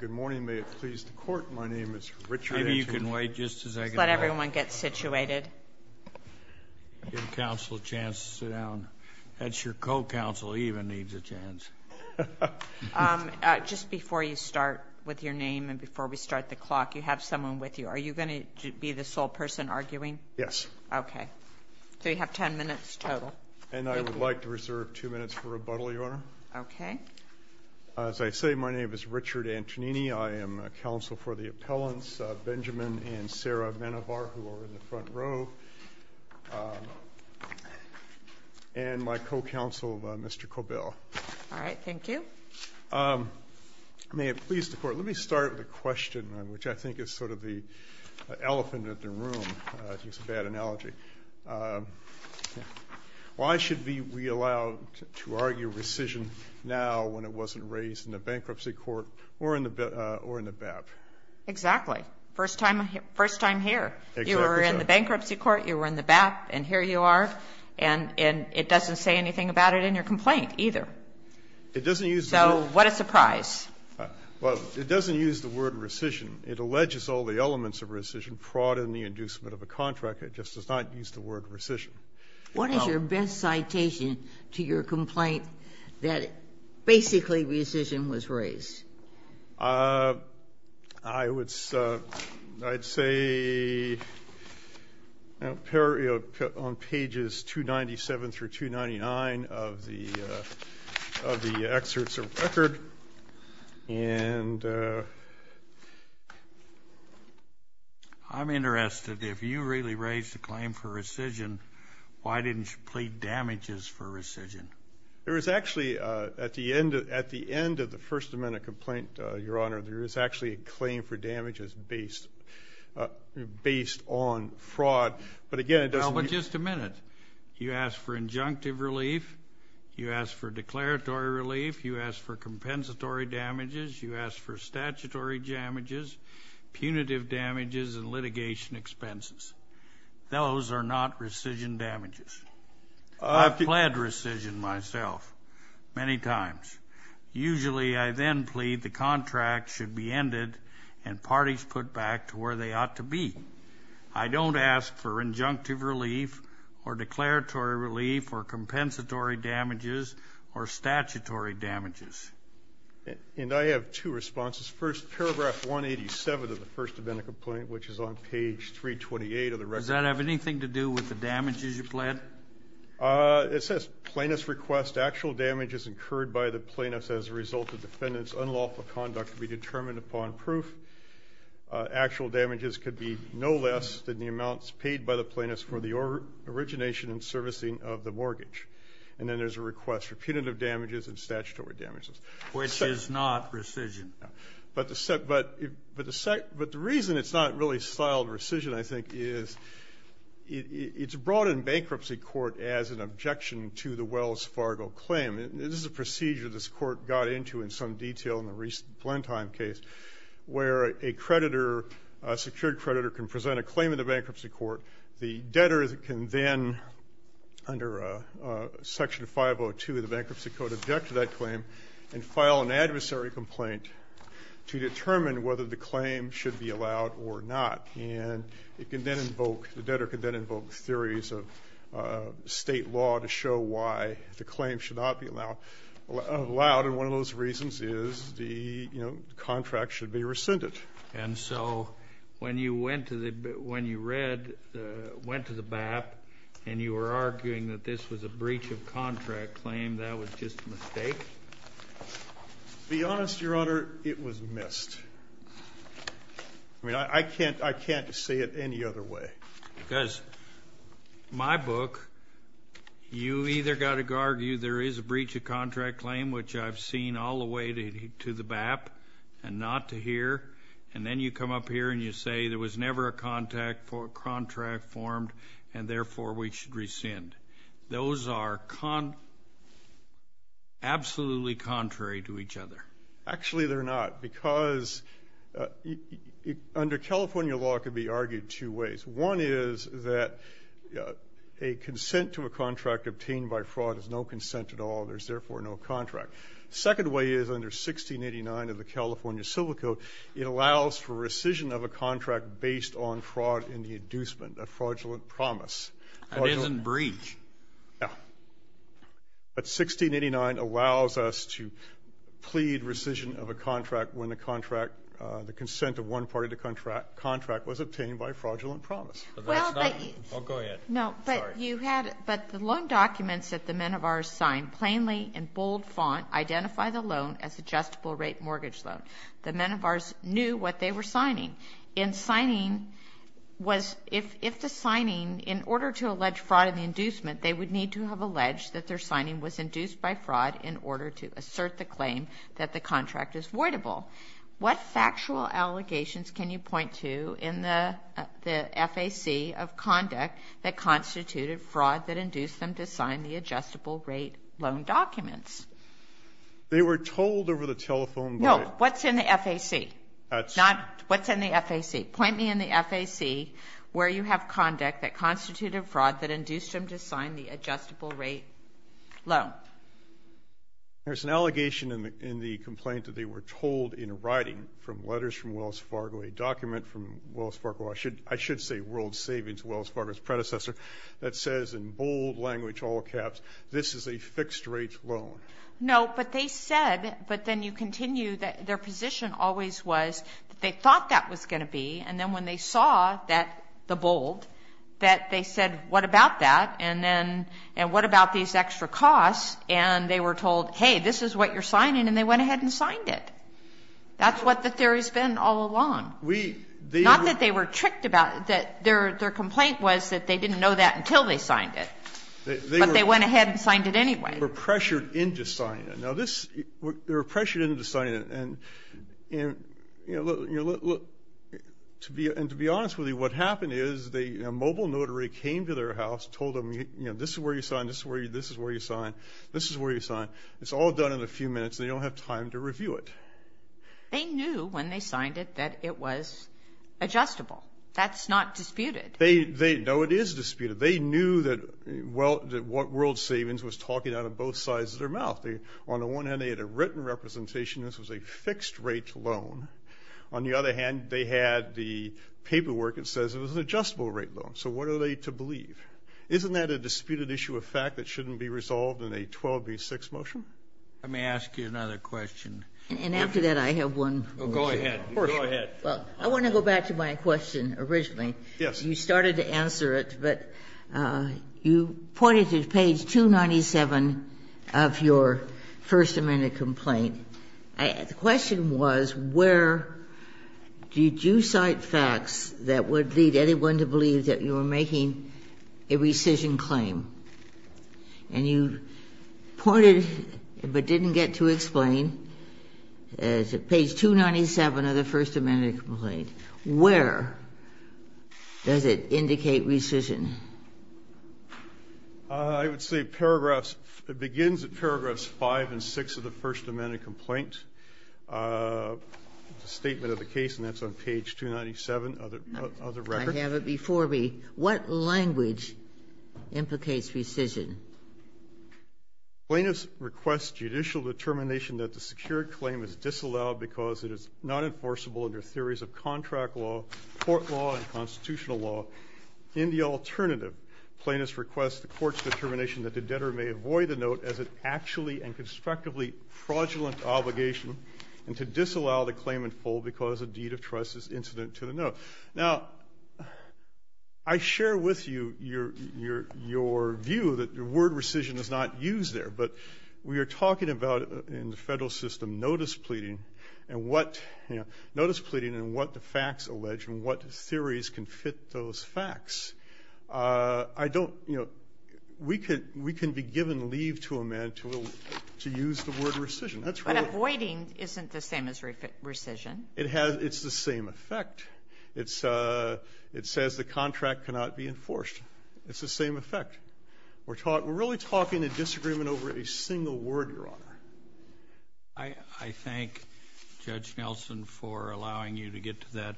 Good morning. May it please the Court, my name is Richard Edgerton. Maybe you can wait just a second. Let everyone get situated. Give counsel a chance to sit down. That's your co-counsel. He even needs a chance. Just before you start with your name and before we start the clock, you have someone with you. Are you going to be the sole person arguing? Yes. Okay. So you have ten minutes total. And I would like to reserve two minutes for rebuttal, Your Honor. Okay. As I say, my name is Richard Antonini. I am counsel for the appellants, Benjamin and Sarah Menjivar, who are in the front row, and my co-counsel, Mr. Cobell. All right. Thank you. May it please the Court, let me start with a question, which I think is sort of the elephant in the room. I think it's a bad analogy. Why should we allow to argue rescission now when it wasn't raised in the bankruptcy court or in the BAP? Exactly. First time here. Exactly so. You were in the bankruptcy court, you were in the BAP, and here you are, and it doesn't say anything about it in your complaint either. It doesn't use the word. So what a surprise. Well, it doesn't use the word rescission. It alleges all the elements of rescission, fraud and the inducement of a contract. It just does not use the word rescission. What is your best citation to your complaint that basically rescission was raised? I would say on pages 297 through 299 of the excerpts of the record, and I think I'm interested. If you really raised a claim for rescission, why didn't you plead damages for rescission? There is actually, at the end of the First Amendment complaint, Your Honor, there is actually a claim for damages based on fraud. But, again, it doesn't Well, but just a minute. You asked for injunctive relief. You asked for declaratory relief. You asked for compensatory damages. You asked for statutory damages, punitive damages and litigation expenses. Those are not rescission damages. I've pled rescission myself many times. Usually I then plead the contract should be ended and parties put back to where they ought to be. I don't ask for injunctive relief or declaratory relief or compensatory damages or statutory damages. And I have two responses. First, paragraph 187 of the First Amendment complaint, which is on page 328 of the record. Does that have anything to do with the damages you pled? It says plaintiffs request actual damages incurred by the plaintiffs as a result of defendant's unlawful conduct be determined upon proof. Actual damages could be no less than the amounts paid by the plaintiffs for the origination and servicing of the mortgage. And then there's a request for punitive damages and statutory damages. Which is not rescission. But the reason it's not really styled rescission, I think, is it's brought in bankruptcy court as an objection to the Wells Fargo claim. This is a procedure this court got into in some detail in the recent Blenheim case where a creditor, a secured creditor, can present a claim in the bankruptcy court. The debtor can then, under Section 502 of the Bankruptcy Code, object to that claim and file an adversary complaint to determine whether the claim should be allowed or not. And it can then invoke, the debtor can then invoke theories of State law to show why the claim should not be allowed. And one of those reasons is the contract should be rescinded. And so when you went to the BAP and you were arguing that this was a breach of contract claim, that was just a mistake? To be honest, Your Honor, it was missed. I mean, I can't say it any other way. Because my book, you either got to argue there is a breach of contract claim, which I've seen all the way to the BAP and not to here, and then you come up here and you say there was never a contract formed and therefore we should rescind. Those are absolutely contrary to each other. Actually, they're not, because under California law it could be argued two ways. One is that a consent to a contract obtained by fraud is no consent at all, there's therefore no contract. The second way is under 1689 of the California Civil Code, it allows for rescission of a contract based on fraud in the inducement of fraudulent promise. That isn't breach. No. But 1689 allows us to plead rescission of a contract when the contract, the consent of one party to contract was obtained by fraudulent promise. I'll go ahead. No, but you had, but the loan documents that the Menevars signed plainly in bold font identify the loan as adjustable rate mortgage loan. The Menevars knew what they were signing. In signing was, if the signing, in order to allege fraud in the inducement, they would need to have alleged that their signing was induced by fraud in order to assert the claim that the contract is voidable. What factual allegations can you point to in the FAC of conduct that constituted fraud that induced them to sign the adjustable rate loan documents? They were told over the telephone by the ---- No, what's in the FAC? That's ---- What's in the FAC? Point me in the FAC where you have conduct that constituted fraud that induced them to sign the adjustable rate loan. There's an allegation in the complaint that they were told in writing from letters from Wells Fargo, a document from Wells Fargo, I should say World Savings, Wells Fargo's predecessor, that says in bold language, all caps, this is a fixed rate loan. No, but they said, but then you continue, that their position always was that they thought that was going to be, and then when they saw that, the bold, that they said, what about that, and then what about these extra costs, and they were told, hey, this is what you're signing, and they went ahead and signed it. That's what the theory's been all along. We ---- Not that they were tricked about it. Their complaint was that they didn't know that until they signed it, but they went ahead and signed it anyway. They were pressured into signing it. Now, this ---- they were pressured into signing it, and, you know, look, to be honest with you, what happened is the mobile notary came to their house, told them, you know, this is where you sign, this is where you sign, this is where you sign. It's all done in a few minutes, and they don't have time to review it. They knew when they signed it that it was adjustable. That's not disputed. No, it is disputed. They knew that World Savings was talking out of both sides of their mouth. On the one hand, they had a written representation this was a fixed rate loan. On the other hand, they had the paperwork that says it was an adjustable rate loan. So what are they to believe? Isn't that a disputed issue of fact that shouldn't be resolved in a 12B6 motion? Let me ask you another question. And after that, I have one more. Go ahead. Go ahead. Well, I want to go back to my question originally. Yes. You started to answer it, but you pointed to page 297 of your First Amendment complaint. And the question was where did you cite facts that would lead anyone to believe that you were making a rescission claim? And you pointed, but didn't get to explain, page 297 of the First Amendment complaint. Where does it indicate rescission? I would say it begins at paragraphs 5 and 6 of the First Amendment complaint. It's a statement of the case, and that's on page 297 of the record. I have it before me. What language implicates rescission? Plaintiffs request judicial determination that the secured claim is disallowed because it is not enforceable under theories of contract law, court law, and constitutional law. In the alternative, plaintiffs request the court's determination that the debtor may avoid the note as an actually and constructively fraudulent obligation and to disallow the claim in full because a deed of trust is incident to the note. Now, I share with you your view that the word rescission is not used there. But we are talking about in the federal system notice pleading and what the facts allege and what theories can fit those facts. I don't, you know, we can be given leave to amend to use the word rescission. But avoiding isn't the same as rescission. It's the same effect. It says the contract cannot be enforced. It's the same effect. I thank Judge Nelson for allowing you to get to that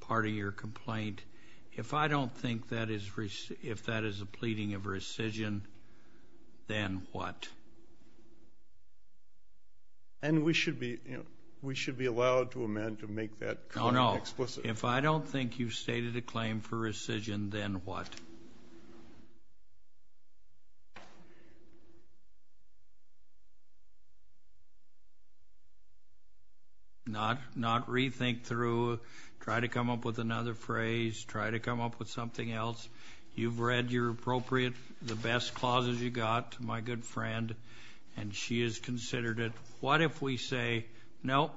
part of your complaint. If I don't think that is a pleading of rescission, then what? And we should be allowed to amend to make that claim explicit. If I don't think you've stated a claim for rescission, then what? Not rethink through, try to come up with another phrase, try to come up with something else. You've read your appropriate, the best clauses you got, my good friend, and she has considered it. What if we say, no,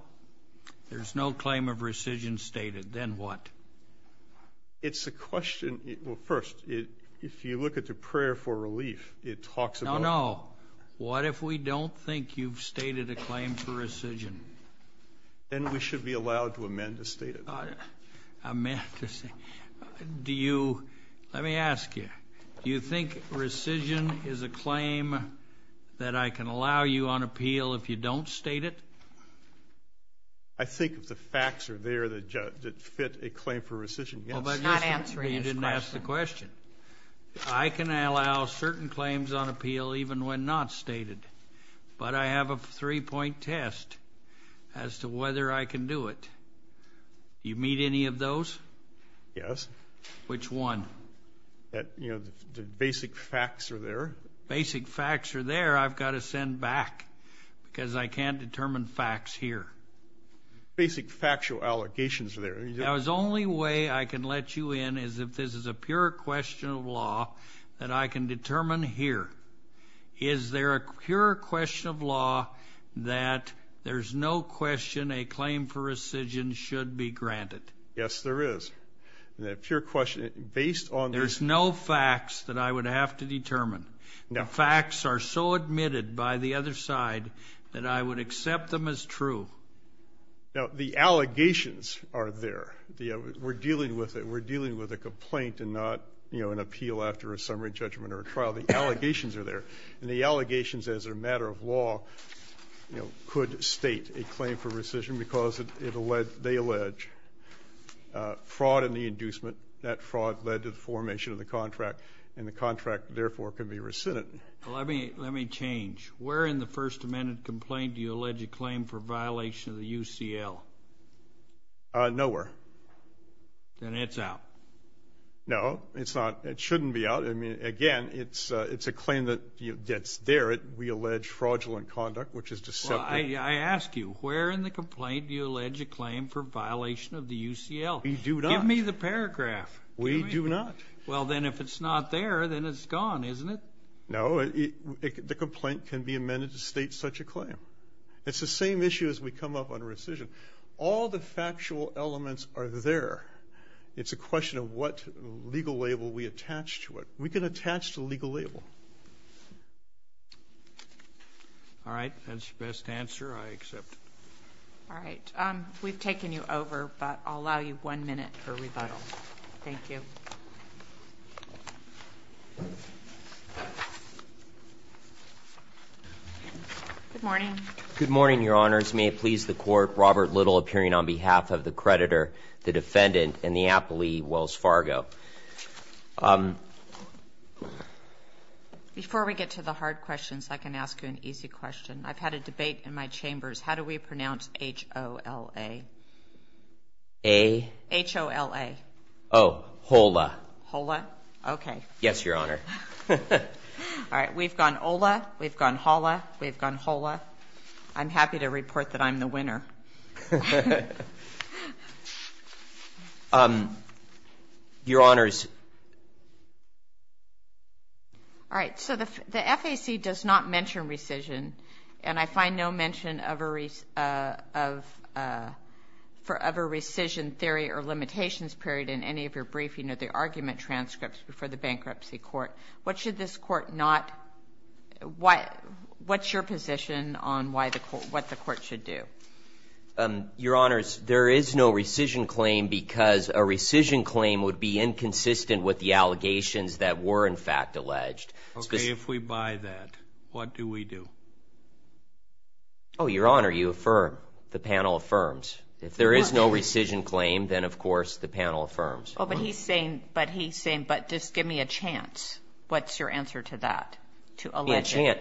there's no claim of rescission stated, then what? It's a question, well, first, if you look at the prayer for relief, it talks about. No, no. What if we don't think you've stated a claim for rescission? Then we should be allowed to amend to state it. Do you, let me ask you, do you think rescission is a claim that I can allow you on appeal if you don't state it? I think if the facts are there that fit a claim for rescission, yes. Well, but you didn't ask the question. I can allow certain claims on appeal even when not stated, but I have a three-point test as to whether I can do it. Do you meet any of those? Yes. Which one? You know, the basic facts are there. Basic facts are there I've got to send back because I can't determine facts here. Basic factual allegations are there. The only way I can let you in is if this is a pure question of law that I can determine here. Is there a pure question of law that there's no question a claim for rescission should be granted? Yes, there is. Then a pure question based on this. There's no facts that I would have to determine. The facts are so admitted by the other side that I would accept them as true. Now, the allegations are there. We're dealing with it. We're dealing with a complaint and not, you know, an appeal after a summary judgment or a trial. The allegations are there, and the allegations as a matter of law, you know, could state a claim for rescission because they allege fraud in the inducement. That fraud led to the formation of the contract, and the contract, therefore, can be rescinded. Let me change. Where in the First Amendment complaint do you allege a claim for violation of the UCL? Nowhere. Then it's out. No, it's not. It shouldn't be out. I mean, again, it's a claim that's there. We allege fraudulent conduct, which is deceptive. Well, I ask you, where in the complaint do you allege a claim for violation of the UCL? We do not. Give me the paragraph. We do not. Well, then, if it's not there, then it's gone, isn't it? No. The complaint can be amended to state such a claim. It's the same issue as we come up on rescission. All the factual elements are there. It's a question of what legal label we attach to it. We can attach to a legal label. All right. That's your best answer. I accept. All right. We've taken you over, but I'll allow you one minute for rebuttal. Thank you. Good morning. Good morning, Your Honors. May it please the Court, Robert Little appearing on behalf of the creditor, the defendant, Wells Fargo. Before we get to the hard questions, I can ask you an easy question. I've had a debate in my chambers. How do we pronounce H-O-L-A? A? H-O-L-A. Oh, HOLA. HOLA? Okay. Yes, Your Honor. All right. We've gone OLA. We've gone HOLA. We've gone HOLA. I'm happy to report that I'm the winner. Your Honors. All right. So the FAC does not mention rescission, and I find no mention of a rescission theory or limitations period in any of your briefing or the argument transcripts before the Bankruptcy Court. What's your position on what the Court should do? Your Honors, there is no rescission claim because a rescission claim would be inconsistent with the allegations that were, in fact, alleged. Okay. If we buy that, what do we do? Oh, Your Honor, you affirm. The panel affirms. If there is no rescission claim, then, of course, the panel affirms. Oh, but he's saying, but just give me a chance. What's your answer to that? Give me a chance.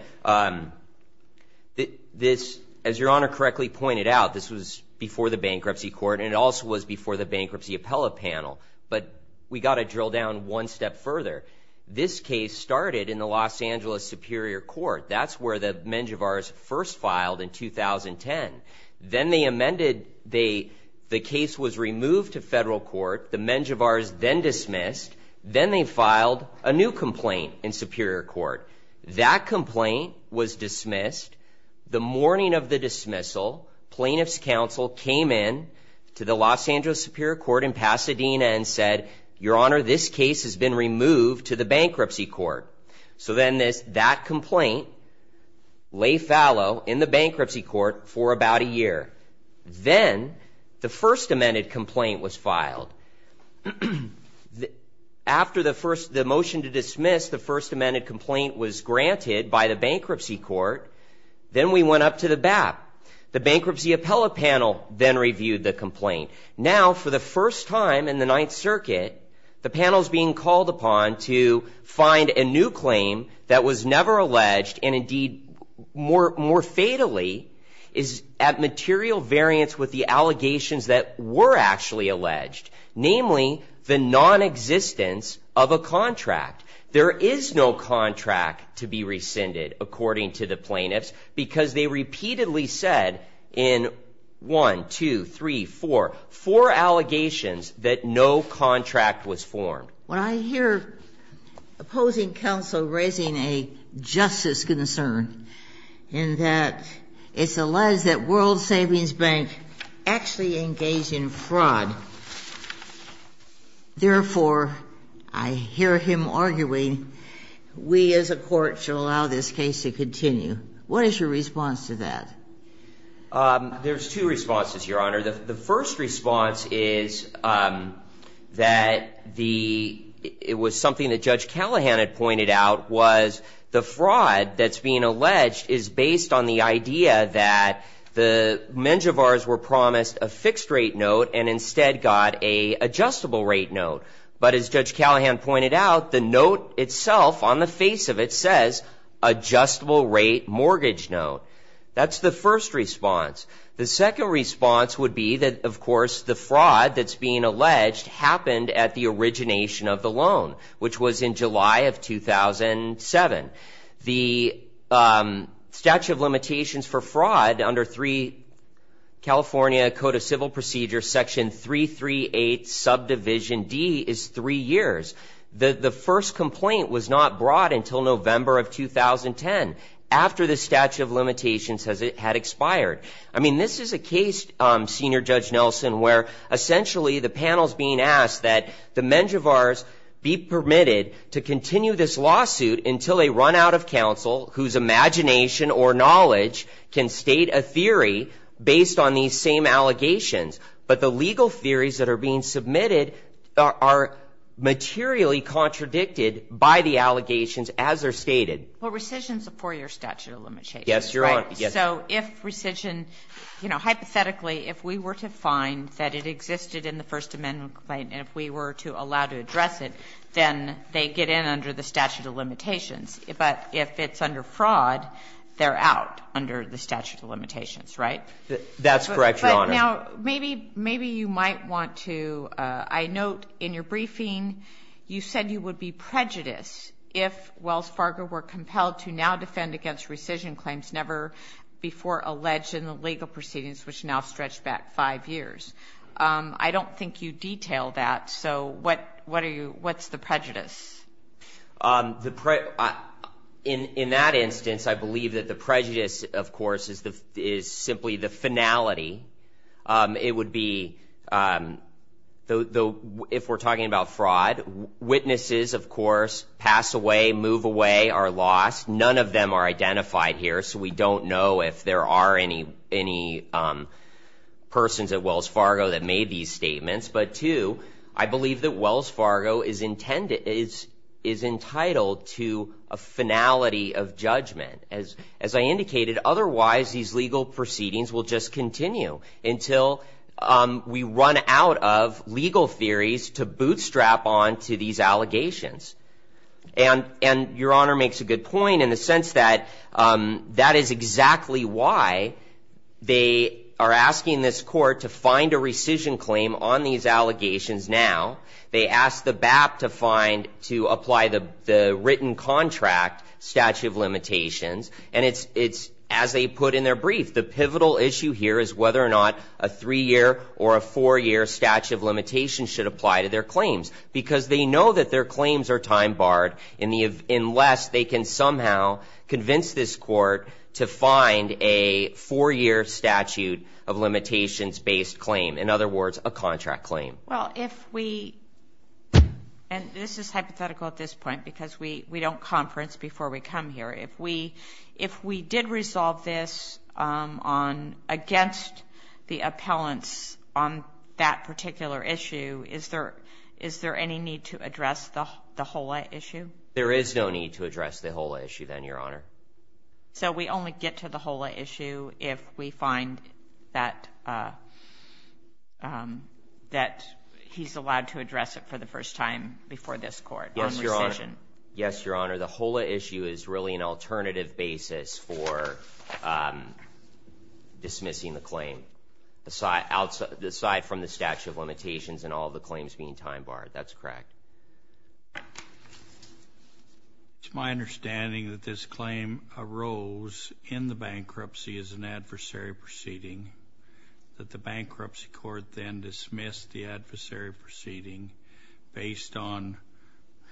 As Your Honor correctly pointed out, this was before the Bankruptcy Court, and it also was before the Bankruptcy Appellate Panel. But we've got to drill down one step further. This case started in the Los Angeles Superior Court. That's where the Menjivars first filed in 2010. Then they amended. The case was removed to federal court. The Menjivars then dismissed. Then they filed a new complaint in Superior Court. That complaint was dismissed. The morning of the dismissal, plaintiff's counsel came in to the Los Angeles Superior Court in Pasadena and said, Your Honor, this case has been removed to the Bankruptcy Court. So then that complaint lay fallow in the Bankruptcy Court for about a year. Then the first amended complaint was filed. After the motion to dismiss, the first amended complaint was granted by the Bankruptcy Court. Then we went up to the BAP. The Bankruptcy Appellate Panel then reviewed the complaint. Now, for the first time in the Ninth Circuit, the panel's being called upon to find a new claim that was never alleged and, indeed, more fatally, is at material variance with the allegations that were actually alleged, namely the nonexistence of a contract. There is no contract to be rescinded, according to the plaintiffs, because they repeatedly said in 1, 2, 3, 4, four allegations that no contract was formed. When I hear opposing counsel raising a justice concern in that it's alleged that World Savings Bank actually engaged in fraud, therefore, I hear him arguing, we as a court should allow this case to continue. What is your response to that? There's two responses, Your Honor. The first response is that it was something that Judge Callahan had pointed out was the fraud that's being alleged is based on the idea that the mengevars were promised a fixed-rate note and instead got an adjustable-rate note. But as Judge Callahan pointed out, the note itself, on the face of it, says adjustable-rate mortgage note. That's the first response. The second response would be that, of course, the fraud that's being alleged happened at the origination of the loan, which was in July of 2007. The statute of limitations for fraud under California Code of Civil Procedures, Section 338, Subdivision D, is three years. The first complaint was not brought until November of 2010, after the statute of limitations had expired. I mean, this is a case, Senior Judge Nelson, where essentially the panel's being asked that the mengevars be permitted to continue this lawsuit until they run out of counsel, whose imagination or knowledge can state a theory based on these same allegations. But the legal theories that are being submitted are materially contradicted by the allegations as they're stated. Well, rescission's a four-year statute of limitations, right? Yes, Your Honor. So if rescission, you know, hypothetically, if we were to find that it existed in the First Amendment complaint and if we were to allow to address it, then they get in under the statute of limitations. But if it's under fraud, they're out under the statute of limitations, right? That's correct, Your Honor. But now maybe you might want to – I note in your briefing you said you would be prejudiced if Wells Fargo were compelled to now defend against rescission claims never before alleged in the legal proceedings, which now stretch back five years. I don't think you detailed that, so what's the prejudice? In that instance, I believe that the prejudice, of course, is simply the finality. It would be, if we're talking about fraud, witnesses, of course, pass away, move away, are lost. None of them are identified here, so we don't know if there are any persons at Wells Fargo that made these statements. But, two, I believe that Wells Fargo is entitled to a finality of judgment. As I indicated, otherwise these legal proceedings will just continue until we run out of legal theories to bootstrap on to these allegations. And Your Honor makes a good point in the sense that that is exactly why they are asking this court to find a rescission claim on these allegations now. They asked the BAP to apply the written contract statute of limitations, and it's, as they put in their brief, the pivotal issue here is whether or not a three-year or a four-year statute of limitations should apply to their claims, because they know that their claims are time-barred unless they can somehow convince this court to find a four-year statute of limitations-based claim, in other words, a contract claim. Well, if we, and this is hypothetical at this point because we don't conference before we come here. If we did resolve this against the appellants on that particular issue, is there any need to address the HOLA issue? There is no need to address the HOLA issue then, Your Honor. So we only get to the HOLA issue if we find that he's allowed to address it for the first time before this court on rescission. Yes, Your Honor. The HOLA issue is really an alternative basis for dismissing the claim aside from the statute of limitations and all the claims being time-barred. That's correct. It's my understanding that this claim arose in the bankruptcy as an adversary proceeding, that the bankruptcy court then dismissed the adversary proceeding based on,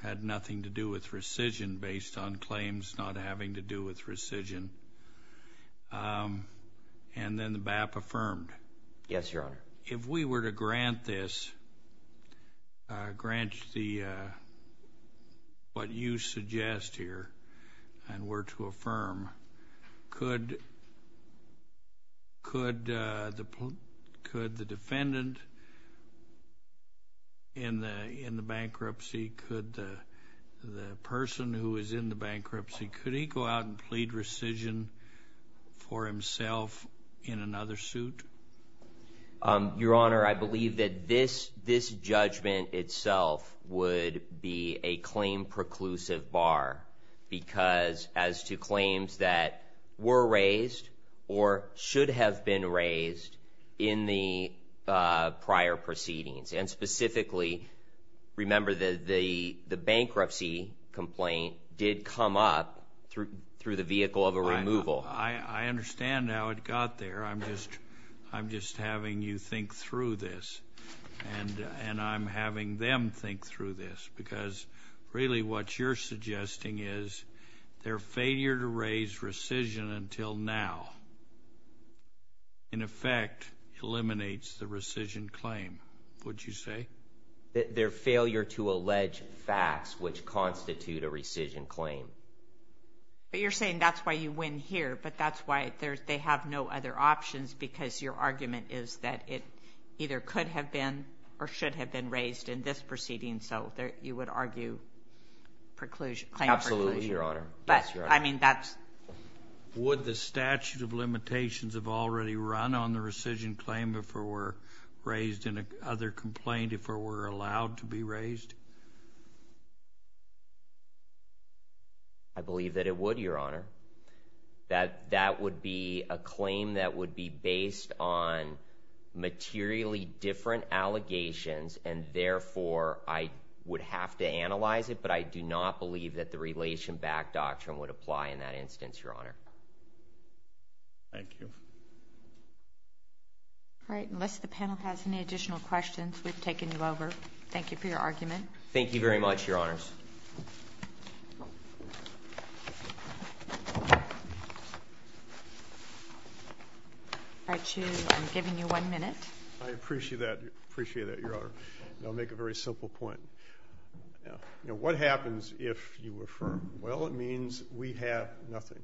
had nothing to do with rescission, based on claims not having to do with rescission, and then the BAP affirmed. Yes, Your Honor. If we were to grant this, grant what you suggest here and were to affirm, could the defendant in the bankruptcy, could the person who is in the bankruptcy, could he go out and plead rescission for himself in another suit? Your Honor, I believe that this judgment itself would be a claim preclusive bar because as to claims that were raised or should have been raised in the prior proceedings, and specifically, remember, the bankruptcy complaint did come up through the vehicle of a removal. I understand how it got there. I'm just having you think through this, and I'm having them think through this because really what you're suggesting is their failure to raise rescission until now in effect eliminates the rescission claim, would you say? Their failure to allege facts which constitute a rescission claim. But you're saying that's why you win here, but that's why they have no other options because your argument is that it either could have been or should have been raised in this proceeding, so you would argue preclusion, claim preclusion. Absolutely, Your Honor. Yes, Your Honor. Would the statute of limitations have already run on the rescission claim if it were raised in another complaint, if it were allowed to be raised? I believe that it would, Your Honor. That would be a claim that would be based on materially different allegations, and therefore I would have to analyze it, but I do not believe that the relation back doctrine would apply in that instance, Your Honor. Thank you. All right, unless the panel has any additional questions, we've taken you over. Thank you for your argument. Thank you very much, Your Honors. I'm giving you one minute. I appreciate that, Your Honor. I'll make a very simple point. What happens if you affirm, well, it means we have nothing?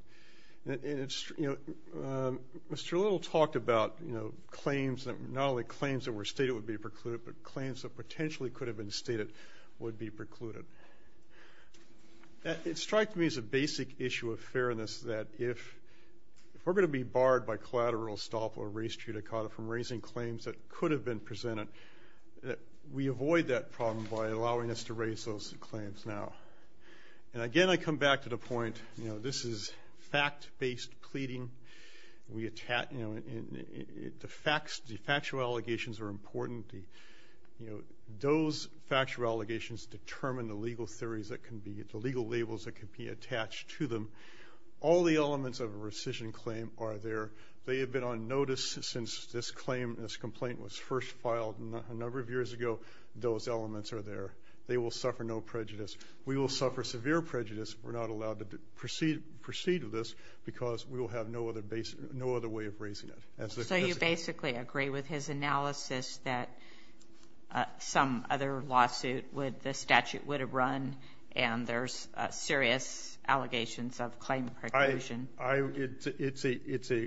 Mr. Little talked about claims, not only claims that were stated would be precluded, but claims that potentially could have been stated would be precluded. It strikes me as a basic issue of fairness that if we're going to be barred by collateral estoppel or res judicata from raising claims that could have been presented, we avoid that problem by allowing us to raise those claims now. And again, I come back to the point, you know, this is fact-based pleading. The factual allegations are important. Those factual allegations determine the legal theories that can be, the legal labels that can be attached to them. All the elements of a rescission claim are there. They have been on notice since this claim, this complaint was first filed a number of years ago. Those elements are there. They will suffer no prejudice. We will suffer severe prejudice if we're not allowed to proceed with this because we will have no other way of raising it. So you basically agree with his analysis that some other lawsuit the statute would have run and there's serious allegations of claim preclusion.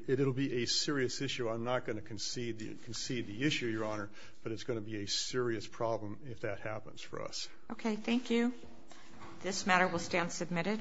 It will be a serious issue. I'm not going to concede the issue, Your Honor, but it's going to be a serious problem if that happens for us. Okay. Thank you. This matter will stand submitted.